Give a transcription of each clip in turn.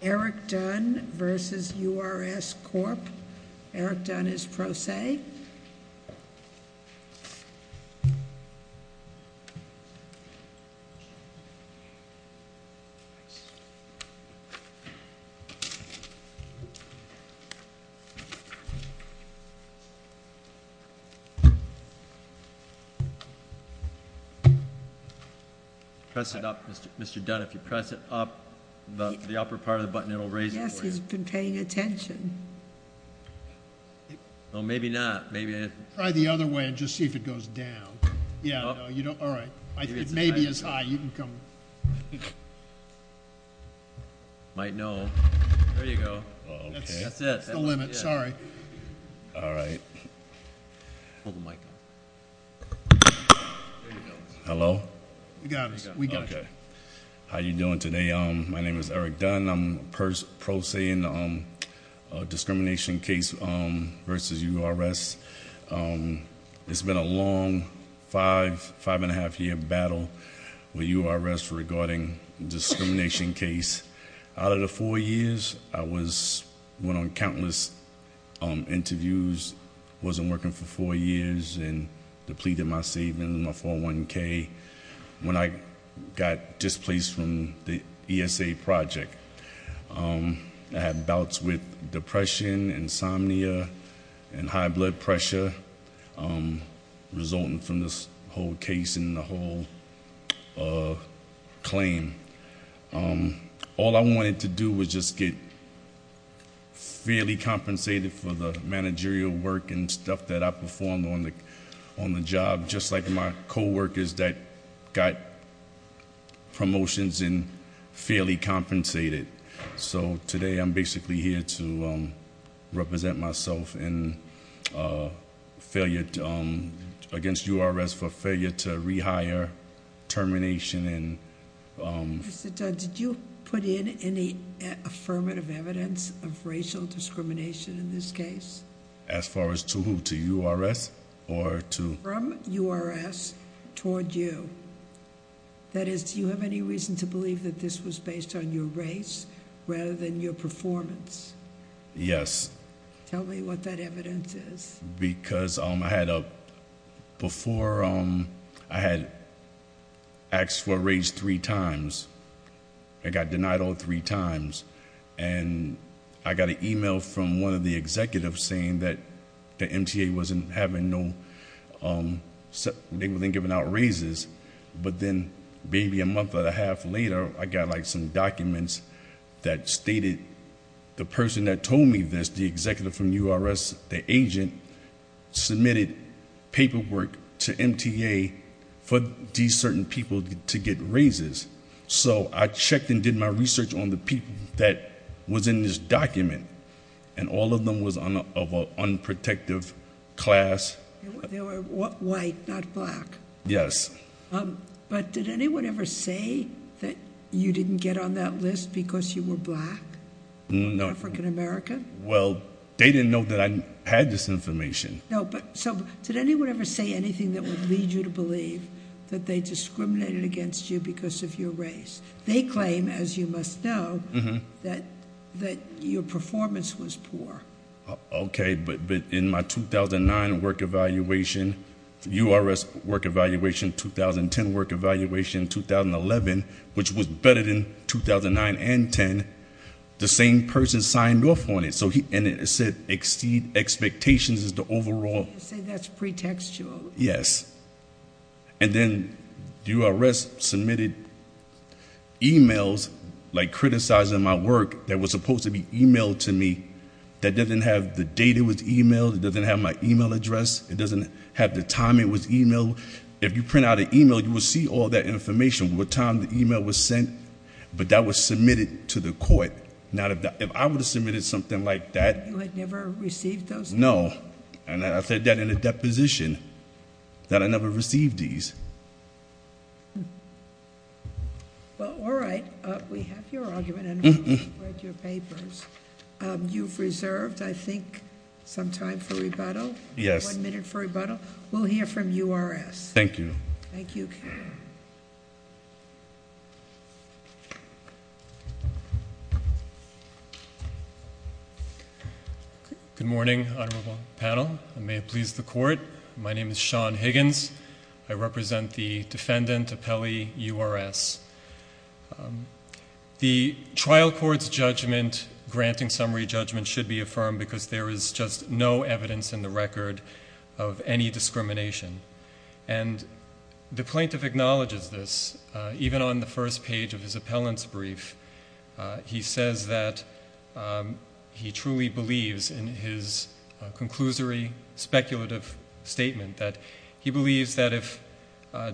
Eric Dunn v. URS Corp. Eric Dunn is pro se. Press it up, Mr. Dunn, if you press it up, the upper part of the button, it'll raise it for you. Yes, he's been paying attention. Well, maybe not. Try the other way and just see if it goes down. Yeah, no, you don't. All right. It may be as high. You can come. Might know. There you go. That's it. That's the limit. Sorry. All right. Hold the mic. There you go. Hello. We got it. We got it. Okay. How you doing today? My name is Eric Dunn. I'm pro se in the discrimination case v. URS. It's been a long five, five and a half year battle with URS regarding discrimination case. Out of the four years, I went on countless interviews, wasn't working for four years, and depleted my savings, my 401k, when I got displaced from the ESA project. I had bouts with depression, insomnia, and high blood pressure resulting from this whole case and the whole claim. All I wanted to do was just get fairly compensated for the managerial work and stuff that I performed on the job, just like my coworkers that got promotions and fairly compensated. So today, I'm basically here to represent myself against URS for failure to rehire, termination, and- Mr. Dunn, did you put in any affirmative evidence of racial discrimination in this case? As far as to who? To URS or to- From URS toward you. That is, do you have any reason to believe that this was based on your race rather than your performance? Yes. Tell me what that evidence is. Because before, I had asked for a raise three times. I got denied all three times. And I got an email from one of the executives saying that the MTA wasn't giving out raises. But then, maybe a month and a half later, I got some documents that stated the person that told me this, the executive from URS, the agent, submitted paperwork to MTA for these certain people to get raises. So I checked and did my research on the people that was in this document, and all of them was of an unprotected class. They were white, not black. Yes. But did anyone ever say that you didn't get on that list because you were black? No. Because you were African American? Well, they didn't know that I had this information. No, but so did anyone ever say anything that would lead you to believe that they discriminated against you because of your race? They claim, as you must know, that your performance was poor. Okay, but in my 2009 work evaluation, URS work evaluation, 2010 work evaluation, 2011, which was better than 2009 and 10, the same person signed off on it. And it said exceed expectations as the overall- You say that's pretextual. Yes. And then, URS submitted emails, like criticizing my work, that was supposed to be emailed to me. That doesn't have the date it was emailed. It doesn't have my email address. It doesn't have the time it was emailed. If you print out an email, you will see all that information, what time the email was sent. But that was submitted to the court. Now, if I would have submitted something like that- You had never received those? No. And I said that in a deposition, that I never received these. Well, all right. We have your argument, and we've read your papers. You've reserved, I think, some time for rebuttal? Yes. One minute for rebuttal? We'll hear from URS. Thank you. Thank you. Good morning, honorable panel. May it please the court. My name is Sean Higgins. I represent the defendant, Appelli URS. The trial court's judgment, granting summary judgment, should be affirmed because there is just no evidence in the record of any discrimination. And the plaintiff acknowledges this, even on the first page of his appellant's brief. He says that he truly believes in his conclusory speculative statement, that he believes that if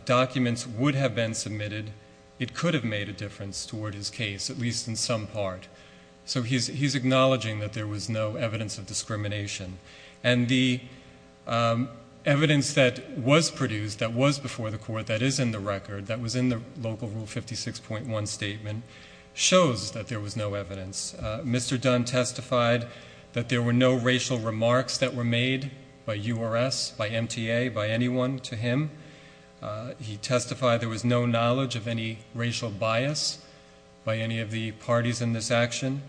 documents would have been submitted, it could have made a difference toward his case, at least in some part. So he's acknowledging that there was no evidence of discrimination. And the evidence that was produced, that was before the court, that is in the record, that was in the local Rule 56.1 statement, shows that there was no evidence. Mr. Dunn testified that there were no racial remarks that were made by URS, by MTA, by anyone to him. He testified there was no knowledge of any racial bias by any of the parties in this action.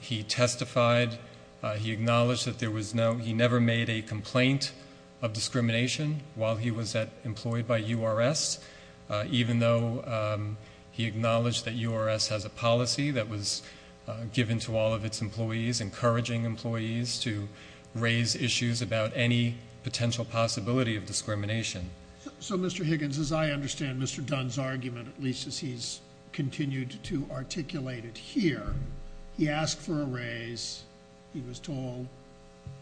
He testified, he acknowledged that there was no, he never made a complaint of discrimination while he was employed by URS, even though he acknowledged that URS has a policy that was given to all of its employees, encouraging employees to raise issues about any potential possibility of discrimination. So, Mr. Higgins, as I understand Mr. Dunn's argument, at least as he's continued to articulate it here, he asked for a raise, he was told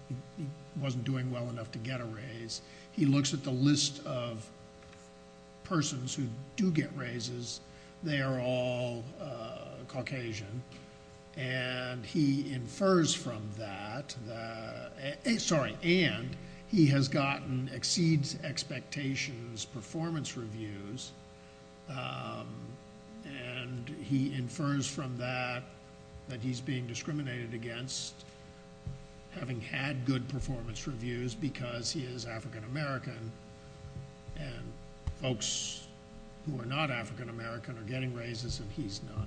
he wasn't doing well enough to get a raise. He looks at the list of persons who do get raises, they are all Caucasian, and he infers from that, sorry, and he has gotten exceeds expectations performance reviews, and he infers from that that he's being discriminated against having had good performance reviews because he is African-American and folks who are not African-American are getting raises and he's not.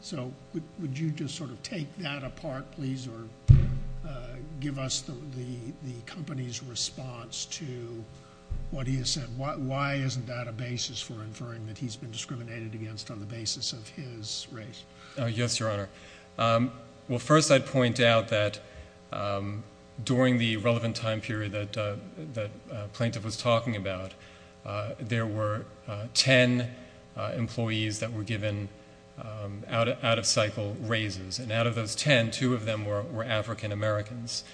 So, would you just sort of take that apart, please, or give us the company's response to what he has said? Why isn't that a basis for inferring that he's been discriminated against on the basis of his raise? Yes, Your Honor. Well, first I'd point out that during the relevant time period that Plaintiff was talking about, there were ten employees that were given out-of-cycle raises, and out of those ten, two of them were African-Americans.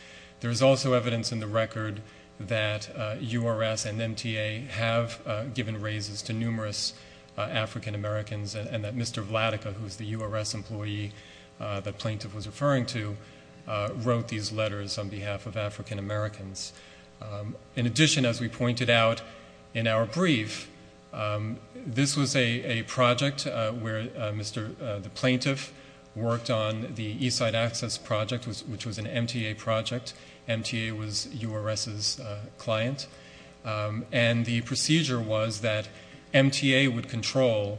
There is also evidence in the record that URS and MTA have given raises to numerous African-Americans and that Mr. Vladeka, who is the URS employee that Plaintiff was referring to, wrote these letters on behalf of African-Americans. In addition, as we pointed out in our brief, this was a project where Mr. Plaintiff worked on the East Side Access Project, which was an MTA project. MTA was URS's client. And the procedure was that MTA would control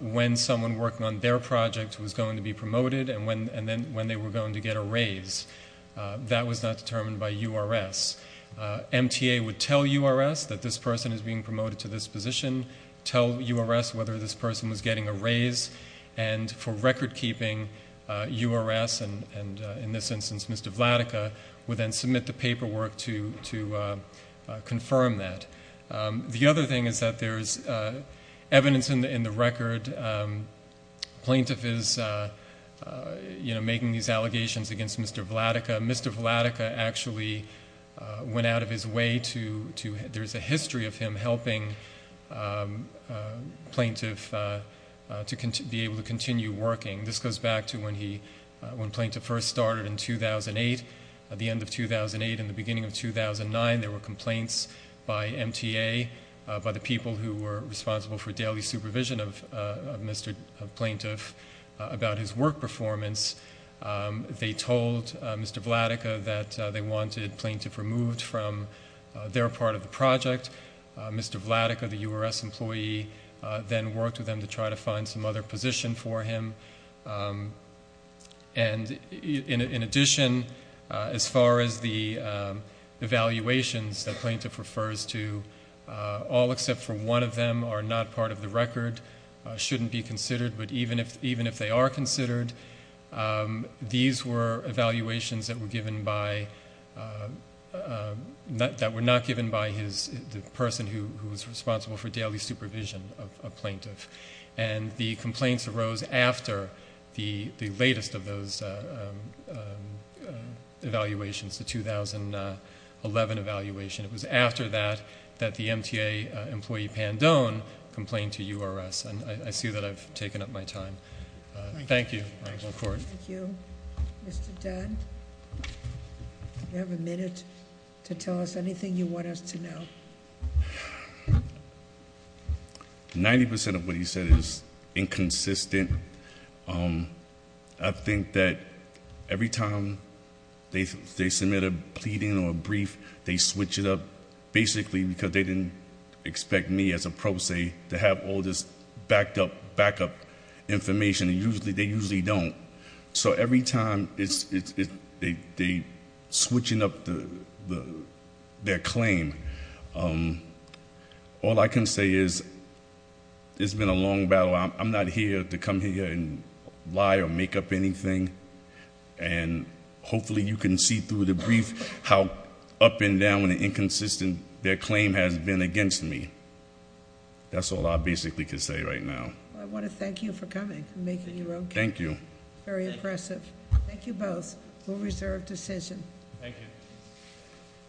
when someone working on their project was going to be promoted and then when they were going to get a raise. That was not determined by URS. MTA would tell URS that this person is being promoted to this position, tell URS whether this person was getting a raise, and for recordkeeping, URS, and in this instance Mr. Vladeka, would then submit the paperwork to confirm that. The other thing is that there is evidence in the record, Plaintiff is making these allegations against Mr. Vladeka. Mr. Vladeka actually went out of his way to, there's a history of him helping Plaintiff to be able to continue working. This goes back to when Plaintiff first started in 2008. At the end of 2008 and the beginning of 2009, there were complaints by MTA, by the people who were responsible for daily supervision of Mr. Plaintiff, about his work performance. They told Mr. Vladeka that they wanted Plaintiff removed from their part of the project. Mr. Vladeka, the URS employee, then worked with them to try to find some other position for him. In addition, as far as the evaluations that Plaintiff refers to, all except for one of them are not part of the record, shouldn't be considered, but even if they are considered, these were evaluations that were given by, that were not given by the person who was responsible for daily supervision of Plaintiff. The complaints arose after the latest of those evaluations, the 2011 evaluation. It was after that that the MTA employee, Pandone, complained to URS. And I see that I've taken up my time. Thank you. Thank you. Mr. Dunn, you have a minute to tell us anything you want us to know. 90% of what he said is inconsistent. I think that every time they submit a pleading or a brief, they switch it up basically because they didn't expect me as a pro se to have all this backed up, backup information, and they usually don't. So every time they're switching up their claim, all I can say is it's been a long battle. I'm not here to come here and lie or make up anything. And hopefully you can see through the brief how up and down and inconsistent their claim has been against me. That's all I basically can say right now. I want to thank you for coming and making your own case. Thank you. Very impressive. Thank you both for a reserved decision. Thank you.